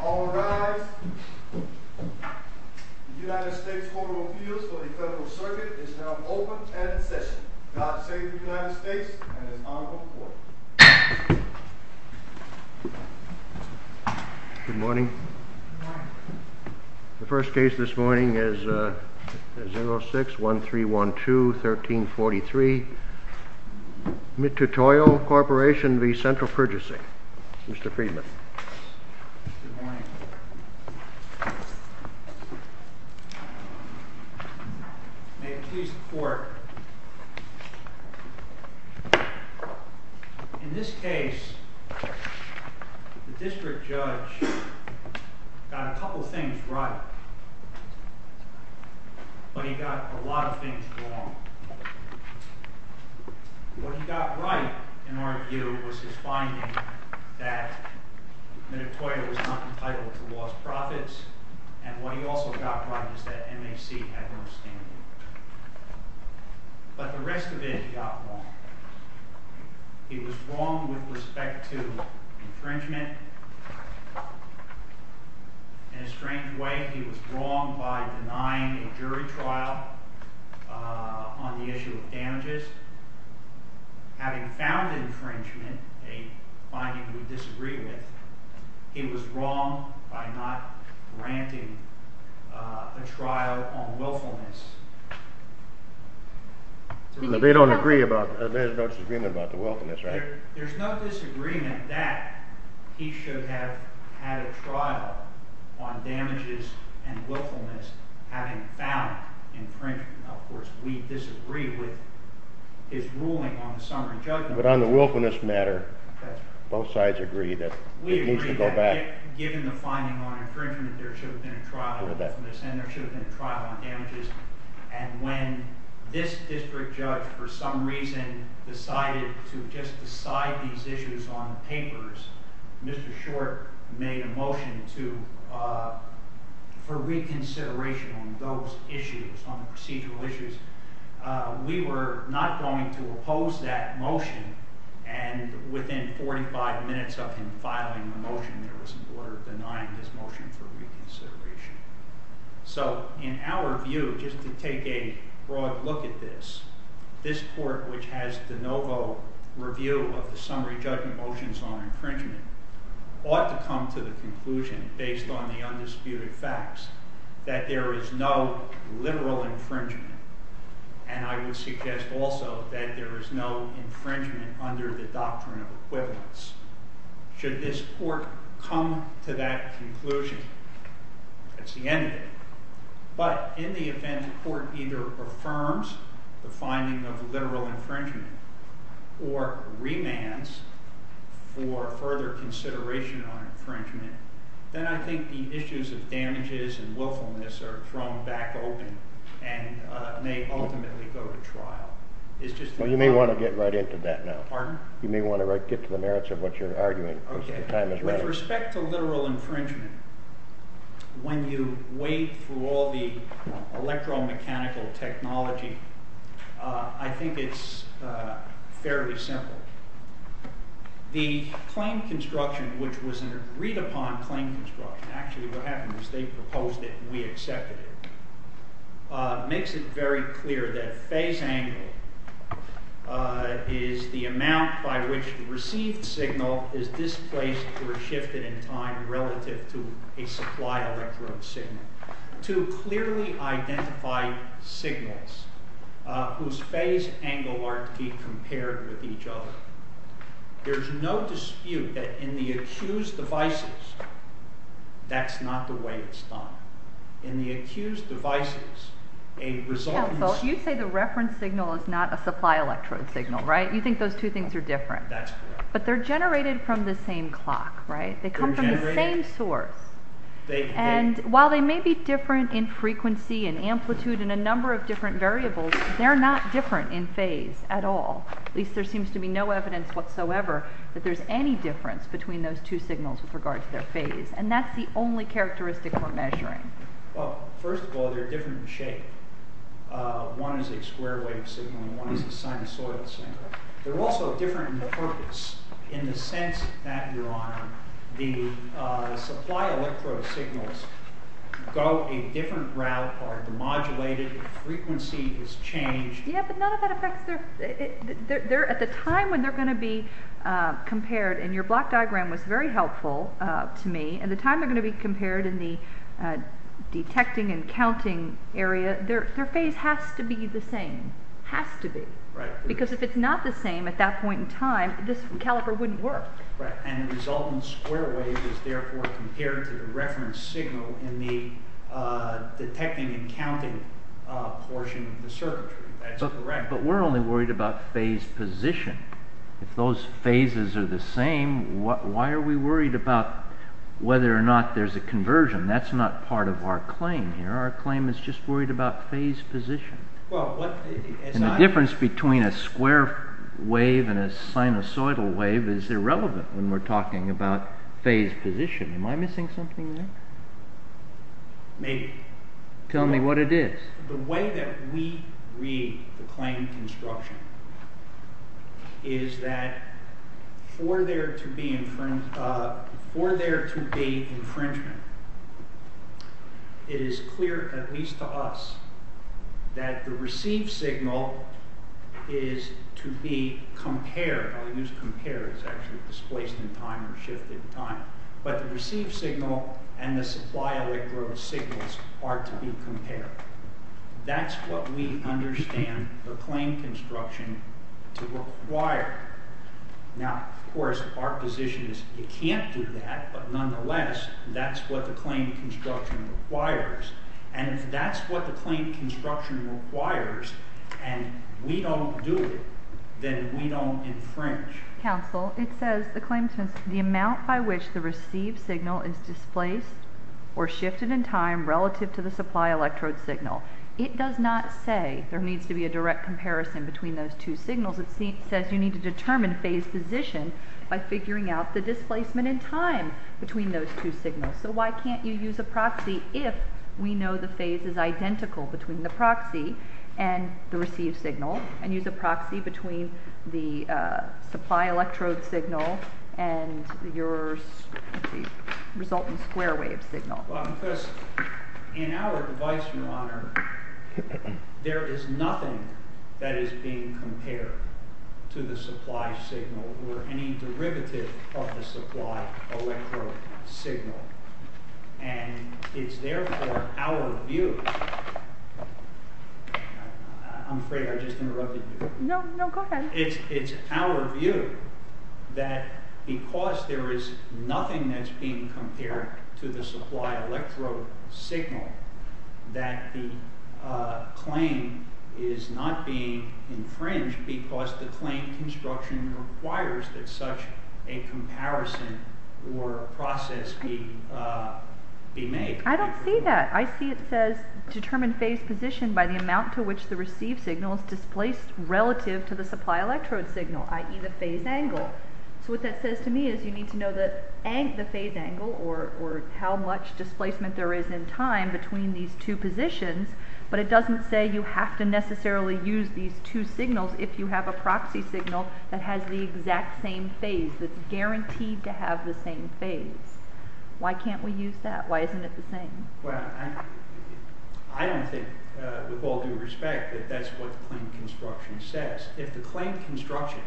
All rise. The United States Court of Appeals for the Federal Circuit is now open and in session. God save the United States and His Honorable Court. Good morning. The first case this morning is 06-1312-1343, Mitutoyo Corporation v. Central Purchasing. Mr. Friedman. Good morning. May it please the Court. In this case, the district judge got a couple things right, but he got a lot of things wrong. What he got right, in our view, was his finding that Mitutoyo was not entitled to lost profits, and what he also got right was that MAC had no standing. But the rest of it he got wrong. He was wrong with respect to infringement. In a strange way, he was wrong by denying a jury trial on the issue of damages. In other words, having found infringement, a finding we disagree with, he was wrong by not granting a trial on willfulness. There is no disagreement about the willfulness, right? But on the willfulness matter, both sides agree that it needs to go back. We agree that given the finding on infringement, there should have been a trial on willfulness, and there should have been a trial on damages. And when this district judge for some reason decided to just decide these issues on papers, Mr. Short made a motion for reconsideration on those issues, on the procedural issues. We were not going to oppose that motion, and within 45 minutes of him filing the motion, there was an order denying this motion for reconsideration. So in our view, just to take a broad look at this, this court which has de novo review of the summary judgment motions on infringement, ought to come to the conclusion, based on the undisputed facts, that there is no literal infringement. And I would suggest also that there is no infringement under the doctrine of equivalence. Should this court come to that conclusion, that's the end of it. But in the event the court either affirms the finding of literal infringement or remands for further consideration on infringement, then I think the issues of damages and willfulness are thrown back open and may ultimately go to trial. You may want to get right into that now. You may want to get to the merits of what you're arguing. With respect to literal infringement, when you wade through all the electromechanical technology, I think it's fairly simple. The claim construction, which was an agreed upon claim construction, actually what happened was they proposed it and we accepted it, makes it very clear that phase angle is the amount by which the received signal is displaced or shifted in time relative to a supply electrode signal. Two clearly identified signals whose phase angle are to be compared with each other. There's no dispute that in the accused devices, that's not the way it's done. In the accused devices, a resultant source... You say the reference signal is not a supply electrode signal, right? You think those two things are different. That's correct. But they're generated from the same clock, right? They come from the same source. And while they may be different in frequency and amplitude and a number of different variables, they're not different in phase at all. At least there seems to be no evidence whatsoever that there's any difference between those two signals with regard to their phase. And that's the only characteristic we're measuring. Well, first of all, they're different in shape. One is a square wave signal and one is a sinusoidal signal. They're also different in purpose in the sense that, Your Honor, the supply electrode signals go a different route or are demodulated, the frequency is changed. Yeah, but none of that affects their... And the time they're going to be compared in the detecting and counting area, their phase has to be the same. Has to be. Because if it's not the same at that point in time, this caliper wouldn't work. Right, and the resultant square wave is therefore compared to the reference signal in the detecting and counting portion of the circuitry. That's correct. But we're only worried about phase position. If those phases are the same, why are we worried about whether or not there's a conversion? That's not part of our claim here. Our claim is just worried about phase position. And the difference between a square wave and a sinusoidal wave is irrelevant when we're talking about phase position. Am I missing something there? Maybe. Tell me what it is. The way that we read the claim construction is that for there to be infringement, it is clear, at least to us, that the received signal is to be compared. I'll use compared. It's actually displaced in time or shifted in time. But the received signal and the supply electrode signals are to be compared. That's what we understand the claim construction to require. Now, of course, our position is you can't do that, but nonetheless, that's what the claim construction requires. And if that's what the claim construction requires and we don't do it, then we don't infringe. Counsel, it says the claim says the amount by which the received signal is displaced or shifted in time relative to the supply electrode signal. It does not say there needs to be a direct comparison between those two signals. It says you need to determine phase position by figuring out the displacement in time between those two signals. So why can't you use a proxy if we know the phase is identical between the proxy and the received signal and use a proxy between the supply electrode signal and the resultant square wave signal? Well, because in our device, Your Honor, there is nothing that is being compared to the supply signal or any derivative of the supply electrode signal. And it's therefore our view. I'm afraid I just interrupted you. No, no, go ahead. It's our view that because there is nothing that's being compared to the supply electrode signal that the claim is not being infringed because the claim construction requires that such a comparison or process be made. I don't see that. I see it says determine phase position by the amount to which the received signal is displaced relative to the supply electrode signal, i.e. the phase angle. So what that says to me is you need to know the phase angle or how much displacement there is in time between these two positions. But it doesn't say you have to necessarily use these two signals if you have a proxy signal that has the exact same phase that's guaranteed to have the same phase. Why can't we use that? Why isn't it the same? Well, I don't think with all due respect that that's what the claim construction says. If the claim construction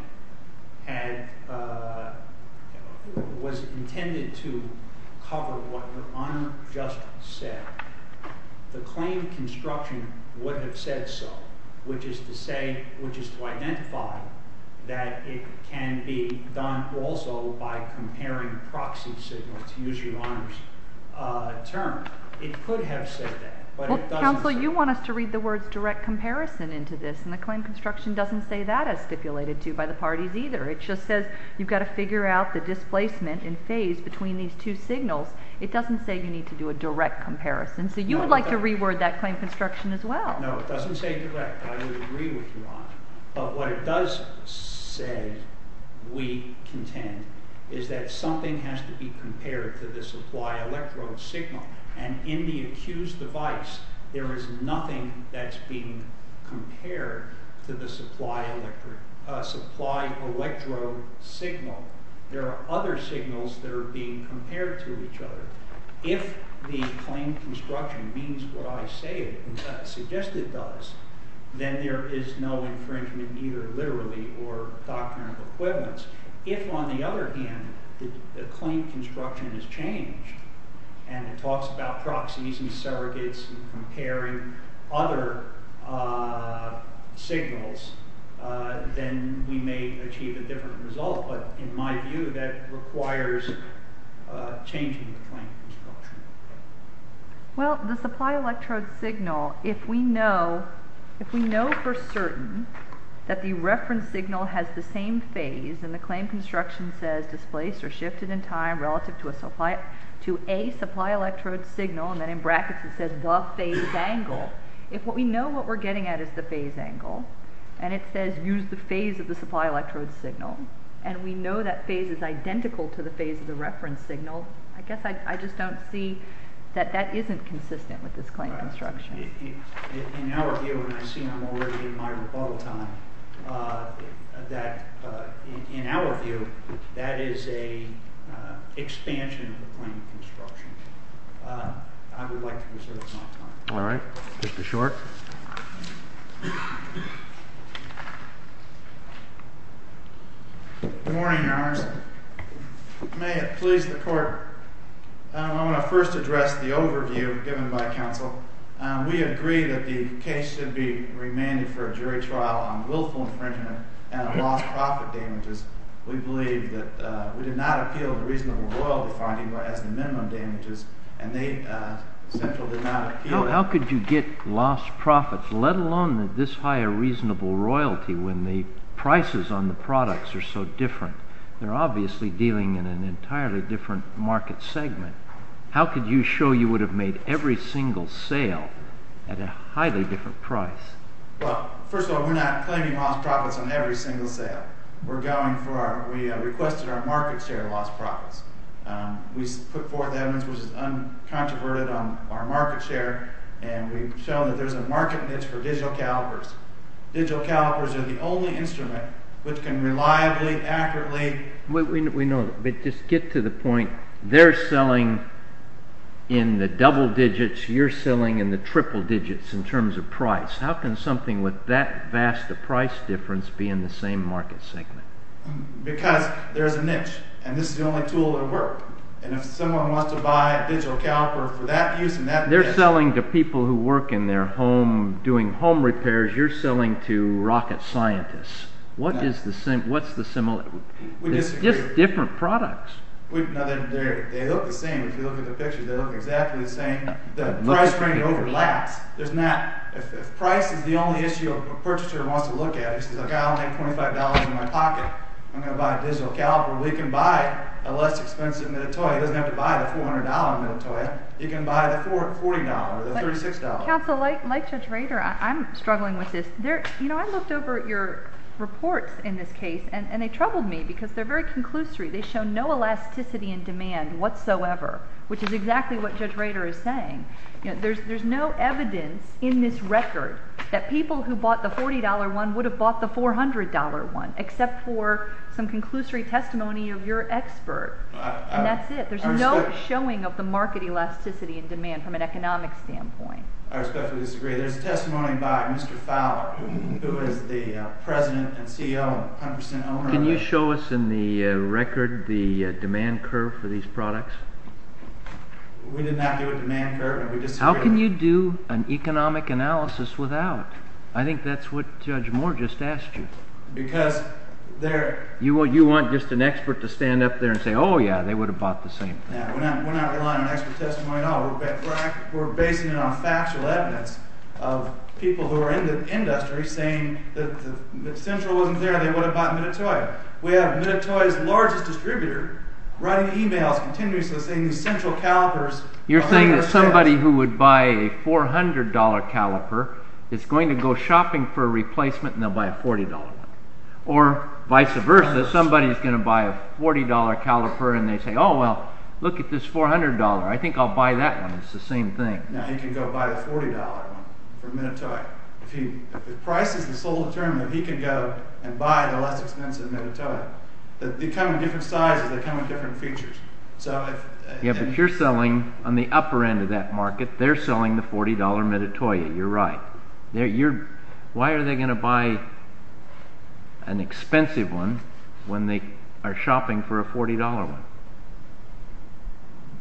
was intended to cover what your Honour just said, the claim construction would have said so, which is to say, which is to identify that it can be done also by comparing proxy signals, to use your Honour's term. It could have said that. Counsel, you want us to read the words direct comparison into this, and the claim construction doesn't say that as stipulated to by the parties either. It just says you've got to figure out the displacement in phase between these two signals. It doesn't say you need to do a direct comparison. So you would like to reword that claim construction as well. No, it doesn't say direct. I would agree with you, Your Honour. But what it does say, we contend, is that something has to be compared to the supply electrode signal. And in the accused device, there is nothing that's being compared to the supply electrode signal. There are other signals that are being compared to each other. If the claim construction means what I say it does, then there is no infringement either literally or doctrinal equivalence. If, on the other hand, the claim construction is changed, and it talks about proxies and surrogates and comparing other signals, then we may achieve a different result. But in my view, that requires changing the claim construction. Well, the supply electrode signal, if we know for certain that the reference signal has the same phase, and the claim construction says displaced or shifted in time relative to a supply electrode signal, and then in brackets it says the phase angle, if we know what we're getting at is the phase angle, and it says use the phase of the supply electrode signal, and we know that phase is identical to the phase of the reference signal, I guess I just don't see that that isn't consistent with this claim construction. In our view, and I see I'm already in my rebuttal time, in our view, that is an expansion of the claim construction. I would like to reserve my time. All right. Mr. Short. Good morning, Your Honors. May it please the Court. I want to first address the overview given by counsel. We agree that the case should be remanded for a jury trial on willful infringement and lost profit damages. We believe that we did not appeal the reasonable royalty finding as the minimum damages, and Central did not appeal that. So how could you get lost profits, let alone at this high a reasonable royalty when the prices on the products are so different? They're obviously dealing in an entirely different market segment. How could you show you would have made every single sale at a highly different price? Well, first of all, we're not claiming lost profits on every single sale. We're going for our, we requested our market share lost profits. We put forth evidence which is uncontroverted on our market share, and we've shown that there's a market niche for digital calipers. Digital calipers are the only instrument which can reliably, accurately... We know that, but just get to the point. They're selling in the double digits, you're selling in the triple digits in terms of price. How can something with that vast a price difference be in the same market segment? Because there's a niche, and this is the only tool that will work. And if someone wants to buy a digital caliper for that use... They're selling to people who work in their home doing home repairs. You're selling to rocket scientists. What is the same? What's the similar? We disagree. It's just different products. They look the same. If you look at the pictures, they look exactly the same. The price range overlaps. If price is the only issue a purchaser wants to look at, he says, I'll make $25 in my pocket, I'm going to buy a digital caliper. Well, he can buy a less expensive Mitutoyo. He doesn't have to buy the $400 Mitutoyo. He can buy the $40, the $36. Counsel, like Judge Rader, I'm struggling with this. I looked over your reports in this case, and they troubled me because they're very conclusory. They show no elasticity in demand whatsoever, which is exactly what Judge Rader is saying. There's no evidence in this record that people who bought the $40 one would have bought the $400 one, except for some conclusory testimony of your expert, and that's it. There's no showing of the market elasticity in demand from an economic standpoint. I respectfully disagree. There's testimony by Mr. Fowler, who is the president and CEO and 100% owner of it. Can you show us in the record the demand curve for these products? We did not do a demand curve. How can you do an economic analysis without? I think that's what Judge Moore just asked you. Because there— You want just an expert to stand up there and say, oh, yeah, they would have bought the same thing. We're not relying on expert testimony at all. We're basing it on factual evidence of people who are in the industry saying that if Central wasn't there, they would have bought Mitutoyo. We have Mitutoyo's largest distributor writing emails continuously saying these Central calipers are 100%— You're saying that somebody who would buy a $400 caliper is going to go shopping for a replacement, and they'll buy a $40 one. Or vice versa, somebody's going to buy a $40 caliper, and they say, oh, well, look at this $400. I think I'll buy that one. It's the same thing. No, he can go buy the $40 one from Mitutoyo. If the price is so determined that he can go and buy the less expensive Mitutoyo, they come in different sizes. They come in different features. Yeah, but you're selling on the upper end of that market. They're selling the $40 Mitutoyo. You're right. Why are they going to buy an expensive one when they are shopping for a $40 one?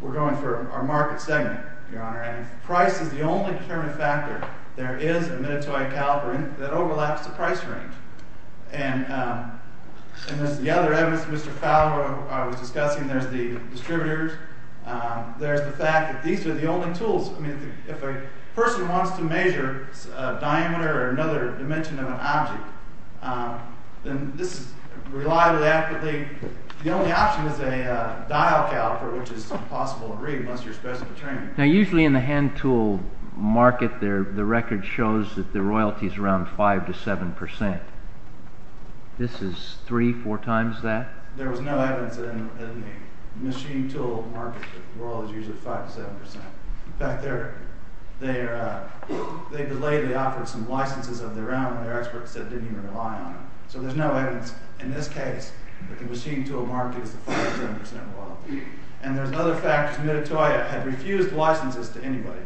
We're going for our market segment, Your Honor. Price is the only determining factor. There is a Mitutoyo caliper that overlaps the price range. And there's the other evidence. Mr. Fowler, I was discussing, there's the distributors. There's the fact that these are the only tools. I mean, if a person wants to measure a diameter or another dimension of an object, then this is reliably, accurately— The only option is a dial caliper, which is impossible to read unless you're supposed to be training. Now, usually in the hand tool market, the record shows that the royalty is around 5 to 7 percent. This is three, four times that? There was no evidence in the machine tool market that the royalty is usually 5 to 7 percent. In fact, they delayed. They offered some licenses of their own. Their experts said they didn't even rely on them. So there's no evidence in this case that the machine tool market is 5 to 7 percent royalty. And there's other factors. Mitutoyo had refused licenses to anybody.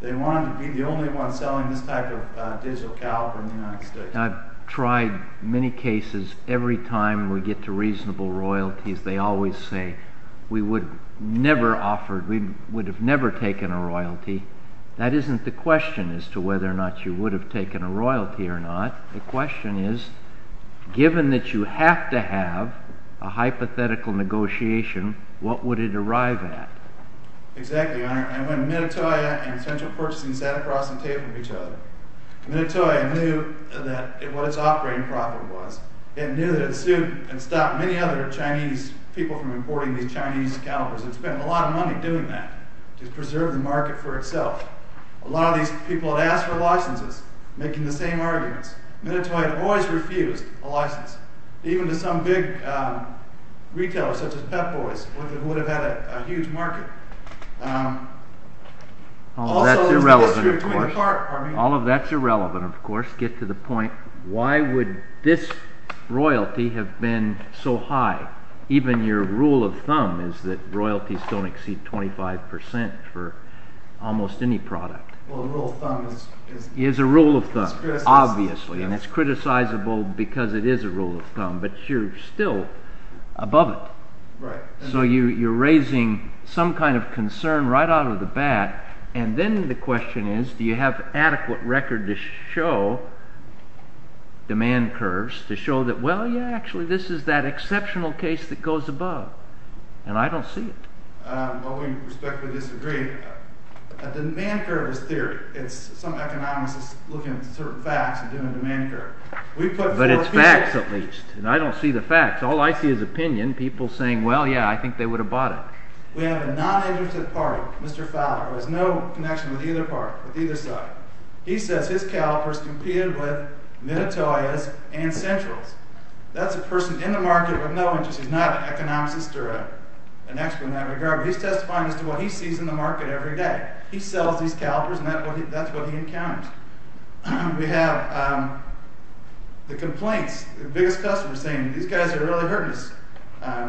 They wanted to be the only one selling this type of digital caliper in the United States. I've tried many cases. Every time we get to reasonable royalties, they always say, we would have never taken a royalty. That isn't the question as to whether or not you would have taken a royalty or not. The question is, given that you have to have a hypothetical negotiation, what would it arrive at? Exactly, Your Honor. And when Mitutoyo and Central Purchasing sat across the table from each other, Mitutoyo knew what its operating profit was. It knew that it sued and stopped many other Chinese people from importing these Chinese calipers. It spent a lot of money doing that to preserve the market for itself. A lot of these people had asked for licenses, making the same arguments. Mitutoyo had always refused a license, even to some big retailers, such as Pep Boys, who would have had a huge market. All of that's irrelevant, of course. All of that's irrelevant, of course. Get to the point, why would this royalty have been so high? Even your rule of thumb is that royalties don't exceed 25% for almost any product. Well, the rule of thumb is... Is a rule of thumb, obviously, and it's criticisable because it is a rule of thumb, but you're still above it. So you're raising some kind of concern right out of the bat, and then the question is, do you have adequate record to show demand curves, to show that, well, yeah, actually, this is that exceptional case that goes above? And I don't see it. Well, we respectfully disagree. A demand curve is theory. Some economist is looking at certain facts and doing a demand curve. But it's facts, at least, and I don't see the facts. All I see is opinion, people saying, well, yeah, I think they would have bought it. We have a non-agent of the party, Mr. Fowler, who has no connection with either side. He says his calipers competed with Minatoya's and Central's. That's a person in the market with no interest. He's not an economist or an expert in that regard, but he's testifying as to what he sees in the market every day. He sells these calipers, and that's what he encounters. We have the complaints, the biggest customers saying, these guys are really hurting us.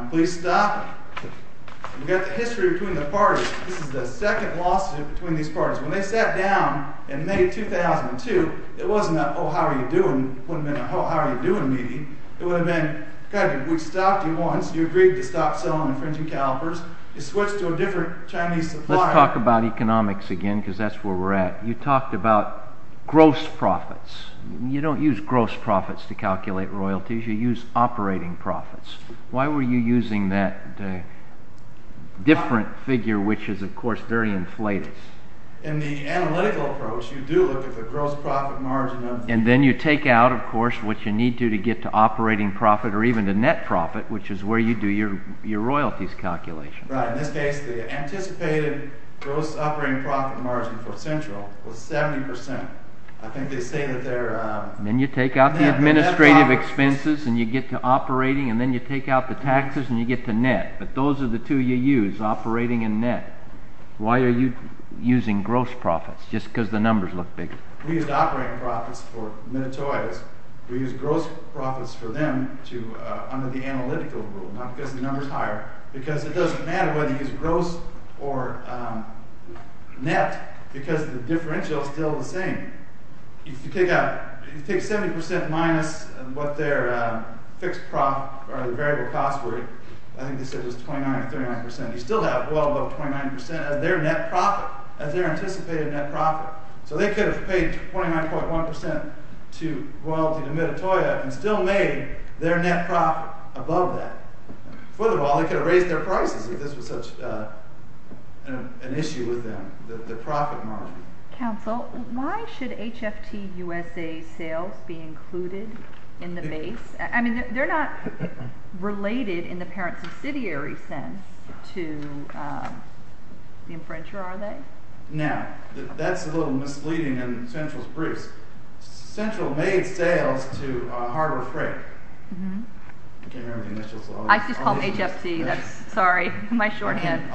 Please stop. We've got the history between the parties. This is the second lawsuit between these parties. When they sat down in May 2002, it wasn't a, oh, how are you doing, wouldn't have been a, oh, how are you doing meeting. It would have been, we stopped you once. You agreed to stop selling infringing calipers. You switched to a different Chinese supplier. Let's talk about economics again because that's where we're at. You talked about gross profits. You don't use gross profits to calculate royalties. You use operating profits. Why were you using that different figure, which is, of course, very inflated? In the analytical approach, you do look at the gross profit margin. Then you take out, of course, what you need to to get to operating profit or even the net profit, which is where you do your royalties calculation. In this case, the anticipated gross operating profit margin for Central was 70%. I think they say that they're- Then you take out the administrative expenses, and you get to operating, and then you take out the taxes, and you get to net. But those are the two you use, operating and net. Why are you using gross profits, just because the numbers look big? We used operating profits for Minitoias. We used gross profits for them under the analytical rule, not because the number's higher, because it doesn't matter whether you use gross or net because the differential is still the same. If you take out- If you take 70% minus what their fixed profit or the variable cost were, I think they said it was 29 or 39%, you still have well above 29% as their net profit, as their anticipated net profit. So they could have paid 29.1% to royalty to Minitoia and still made their net profit above that. Furthermore, they could have raised their prices if this was such an issue with them, the profit margin. Counsel, why should HFTUSA sales be included in the base? I mean, they're not related in the parent subsidiary sense to the infringer, are they? Now, that's a little misleading in Central's briefs. Central made sales to Harbor Freight. I can't remember the initials. I just called them HFC. Sorry, my shorthand.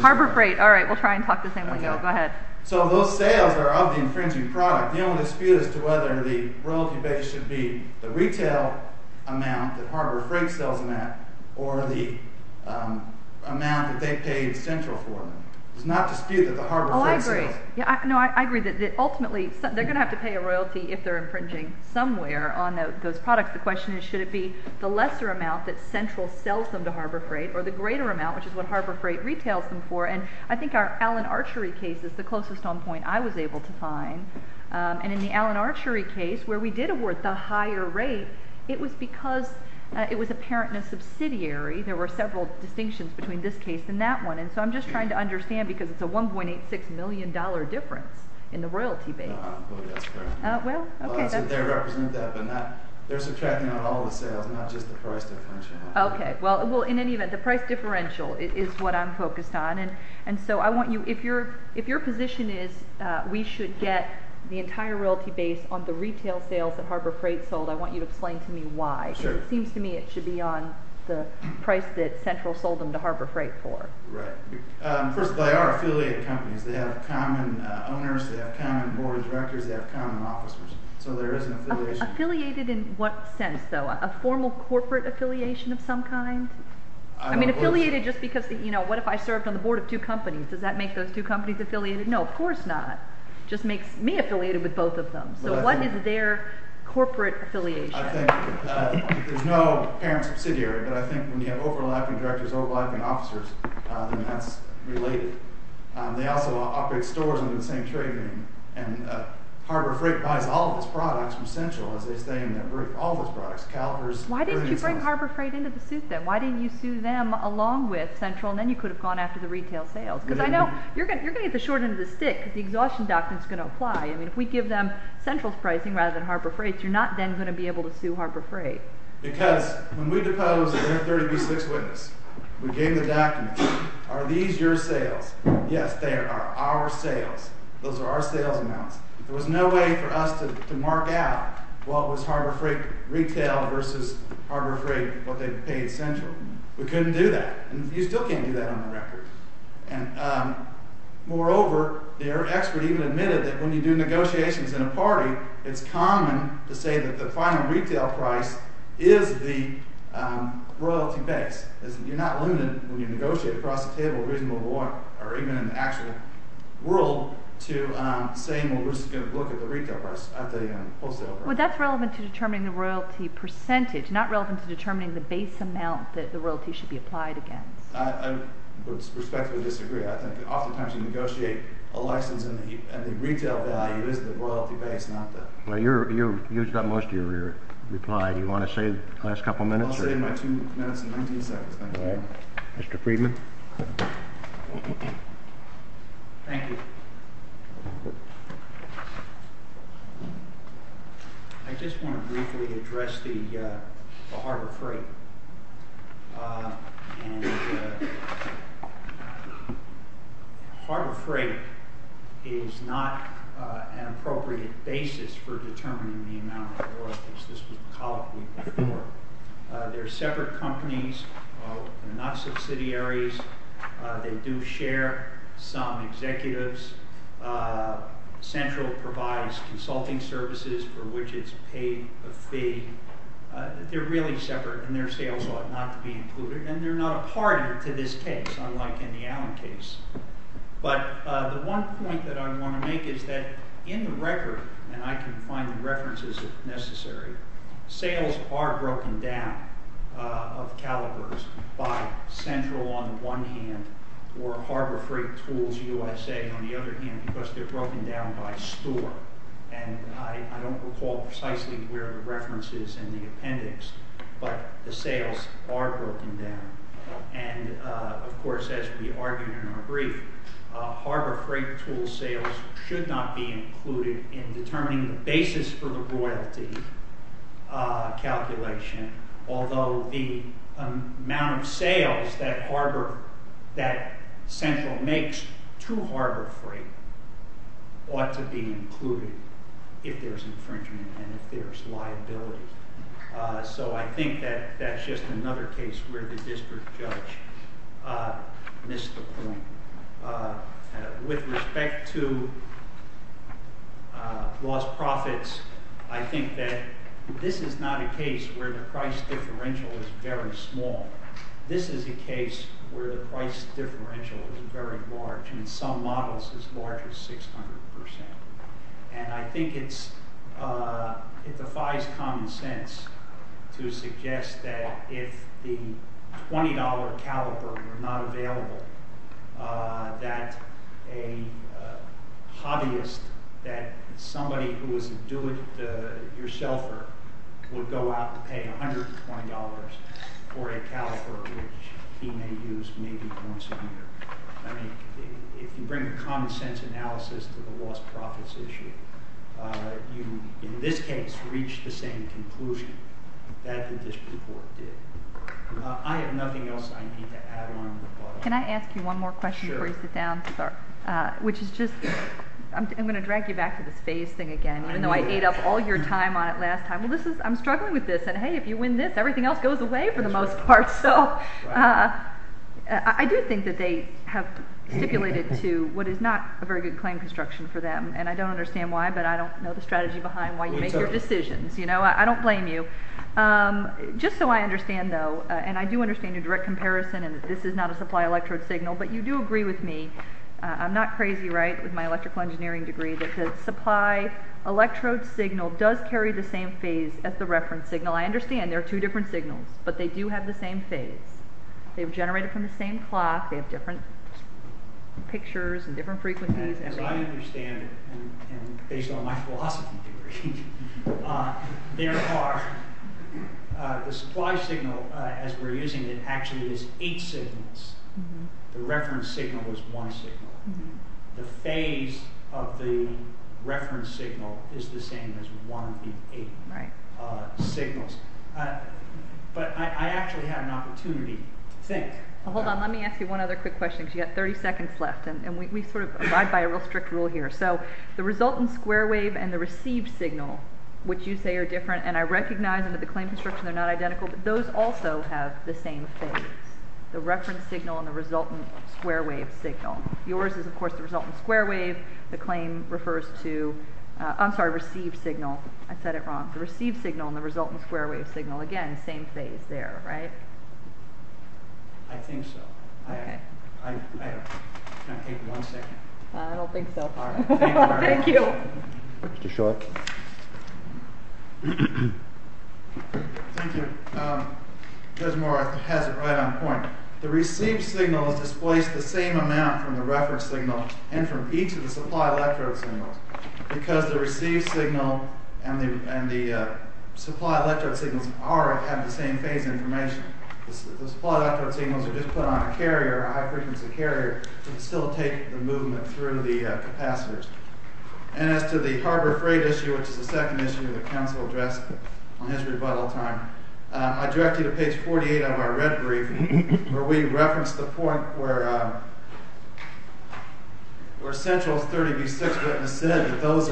Harbor Freight. All right, we'll try and talk the same way. Go ahead. So those sales are of the infringing product. The only dispute as to whether the royalty base should be the retail amount that Harbor Freight sells them at or the amount that they paid Central for. There's not dispute that the Harbor Freight sells. Oh, I agree. No, I agree that ultimately they're going to have to pay a royalty if they're infringing somewhere on those products. The question is should it be the lesser amount that Central sells them to Harbor Freight or the greater amount, which is what Harbor Freight retails them for. And I think our Allen Archery case is the closest on point I was able to find and in the Allen Archery case where we did award the higher rate, it was because it was apparent in a subsidiary. There were several distinctions between this case and that one, and so I'm just trying to understand because it's a $1.86 million difference in the royalty base. No, I don't believe that's correct. Well, okay. They represent that, but they're subtracting out all the sales, not just the price differential. Okay, well, in any event, the price differential is what I'm focused on, and so I want you, if your position is we should get the entire royalty base on the retail sales that Harbor Freight sold, I want you to explain to me why. Sure. Because it seems to me it should be on the price that Central sold them to Harbor Freight for. Right. First of all, they are affiliated companies. They have common owners, they have common board of directors, they have common officers, so there is an affiliation. Affiliated in what sense, though? A formal corporate affiliation of some kind? Affiliated just because, you know, what if I served on the board of two companies? Does that make those two companies affiliated? No, of course not. It just makes me affiliated with both of them. So what is their corporate affiliation? I think there's no parent subsidiary, but I think when you have overlapping directors, overlapping officers, then that's related. They also operate stores under the same trade name, and Harbor Freight buys all of its products from Central, as they say in that brief, all of its products, calipers. Why didn't you bring Harbor Freight into the suit, then? Why didn't you sue them along with Central, and then you could have gone after the retail sales? Because I know you're going to get the short end of the stick because the exhaustion doctrine is going to apply. I mean, if we give them Central's pricing rather than Harbor Freight's, you're not then going to be able to sue Harbor Freight. Because when we deposed the M30B6 witness, we gave the documents, are these your sales? Yes, they are our sales. Those are our sales amounts. There was no way for us to mark out what was Harbor Freight retail versus Harbor Freight, what they paid Central. We couldn't do that, and you still can't do that on the record. Moreover, the expert even admitted that when you do negotiations in a party, it's common to say that the final retail price is the royalty base. You're not limited when you negotiate across the table a reasonable amount, or even in the actual world, to saying, well, we're just going to look at the retail price at the wholesale price. Well, that's relevant to determining the royalty percentage, not relevant to determining the base amount that the royalty should be applied against. I would respectfully disagree. I think oftentimes you negotiate a license, and the retail value is the royalty base, not the… Well, you've used up most of your reply. Do you want to save the last couple of minutes? I'll save my two minutes and 19 seconds. Thank you. Mr. Friedman? Thank you. I just want to briefly address the Harbor Freight. Harbor Freight is not an appropriate basis for determining the amount of royalties. This was called before. They're separate companies. They're not subsidiaries. They do share some executives. Central provides consulting services for which it's paid a fee. They're really separate, and their sales ought not to be included. And they're not a party to this case, unlike in the Allen case. But the one point that I want to make is that in the record, and I can find the references if necessary, sales are broken down of calibers by Central on the one hand, or Harbor Freight Tools USA on the other hand, because they're broken down by store. And I don't recall precisely where the reference is in the appendix, but the sales are broken down. And, of course, as we argued in our brief, Harbor Freight Tools sales should not be included in determining the basis for the royalty calculation, although the amount of sales that Central makes to Harbor Freight ought to be included if there's infringement and if there's liability. So I think that that's just another case where the district judge missed the point. With respect to lost profits, I think that this is not a case where the price differential is very small. This is a case where the price differential is very large, and in some models as large as 600%. And I think it defies common sense to suggest that if the $20 caliber were not available, that a hobbyist, that somebody who was a do-it-yourselfer would go out and pay $120 for a caliber which he may use maybe once a year. I mean, if you bring a common-sense analysis to the lost profits issue, you, in this case, reach the same conclusion that the district court did. I have nothing else I need to add on. Can I ask you one more question before you sit down? Sure. Which is just... I'm going to drag you back to this phase thing again. Even though I ate up all your time on it last time. Well, I'm struggling with this. And hey, if you win this, everything else goes away for the most part. So I do think that they have stipulated to what is not a very good claim construction for them. And I don't understand why, but I don't know the strategy behind why you make your decisions. I don't blame you. Just so I understand, though, and I do understand your direct comparison and that this is not a supply electrode signal, but you do agree with me. I'm not crazy, right, with my electrical engineering degree, that the supply electrode signal does carry the same phase as the reference signal. I understand there are two different signals, but they do have the same phase. They've generated from the same clock. They have different pictures and different frequencies. As I understand it, and based on my philosophy degree, there are... The supply signal, as we're using it, actually is eight signals. The reference signal is one signal. The phase of the reference signal is the same as one of the eight signals. But I actually had an opportunity to think... Hold on, let me ask you one other quick question because you've got 30 seconds left, and we sort of abide by a real strict rule here. So the resultant square wave and the received signal, which you say are different, and I recognize under the claim construction they're not identical, but those also have the same phase, the reference signal and the resultant square wave signal. Yours is, of course, the resultant square wave. The claim refers to... I'm sorry, received signal. I said it wrong. The received signal and the resultant square wave signal, again, same phase there, right? I think so. Okay. I don't... Can I take one second? I don't think so. All right. Thank you. Mr. Schultz. Thank you. Desmore has it right on point. The received signal is displaced the same amount from the reference signal and from each of the supply electrode signals because the received signal and the supply electrode signals have the same phase information. The supply electrode signals are just put on a carrier, a high-frequency carrier, to facilitate the movement through the capacitors. And as to the harbor freight issue, which is the second issue that counsel addressed on his rebuttal time, I direct you to page 48 of our red brief where we reference the point where Central's 30B6 witness said that those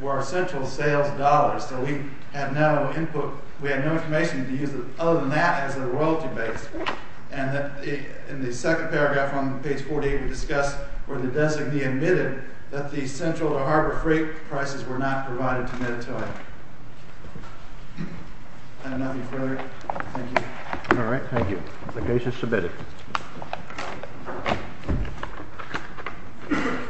were Central's sales dollars. So we have no input. We have no information to use other than that as a royalty base. And in the second paragraph on page 48, we discuss where the designee admitted that the Central to Harbor Freight prices were not provided to Mediterranean. I have nothing further. Thank you. All right. Thank you. Obligation submitted. Thank you.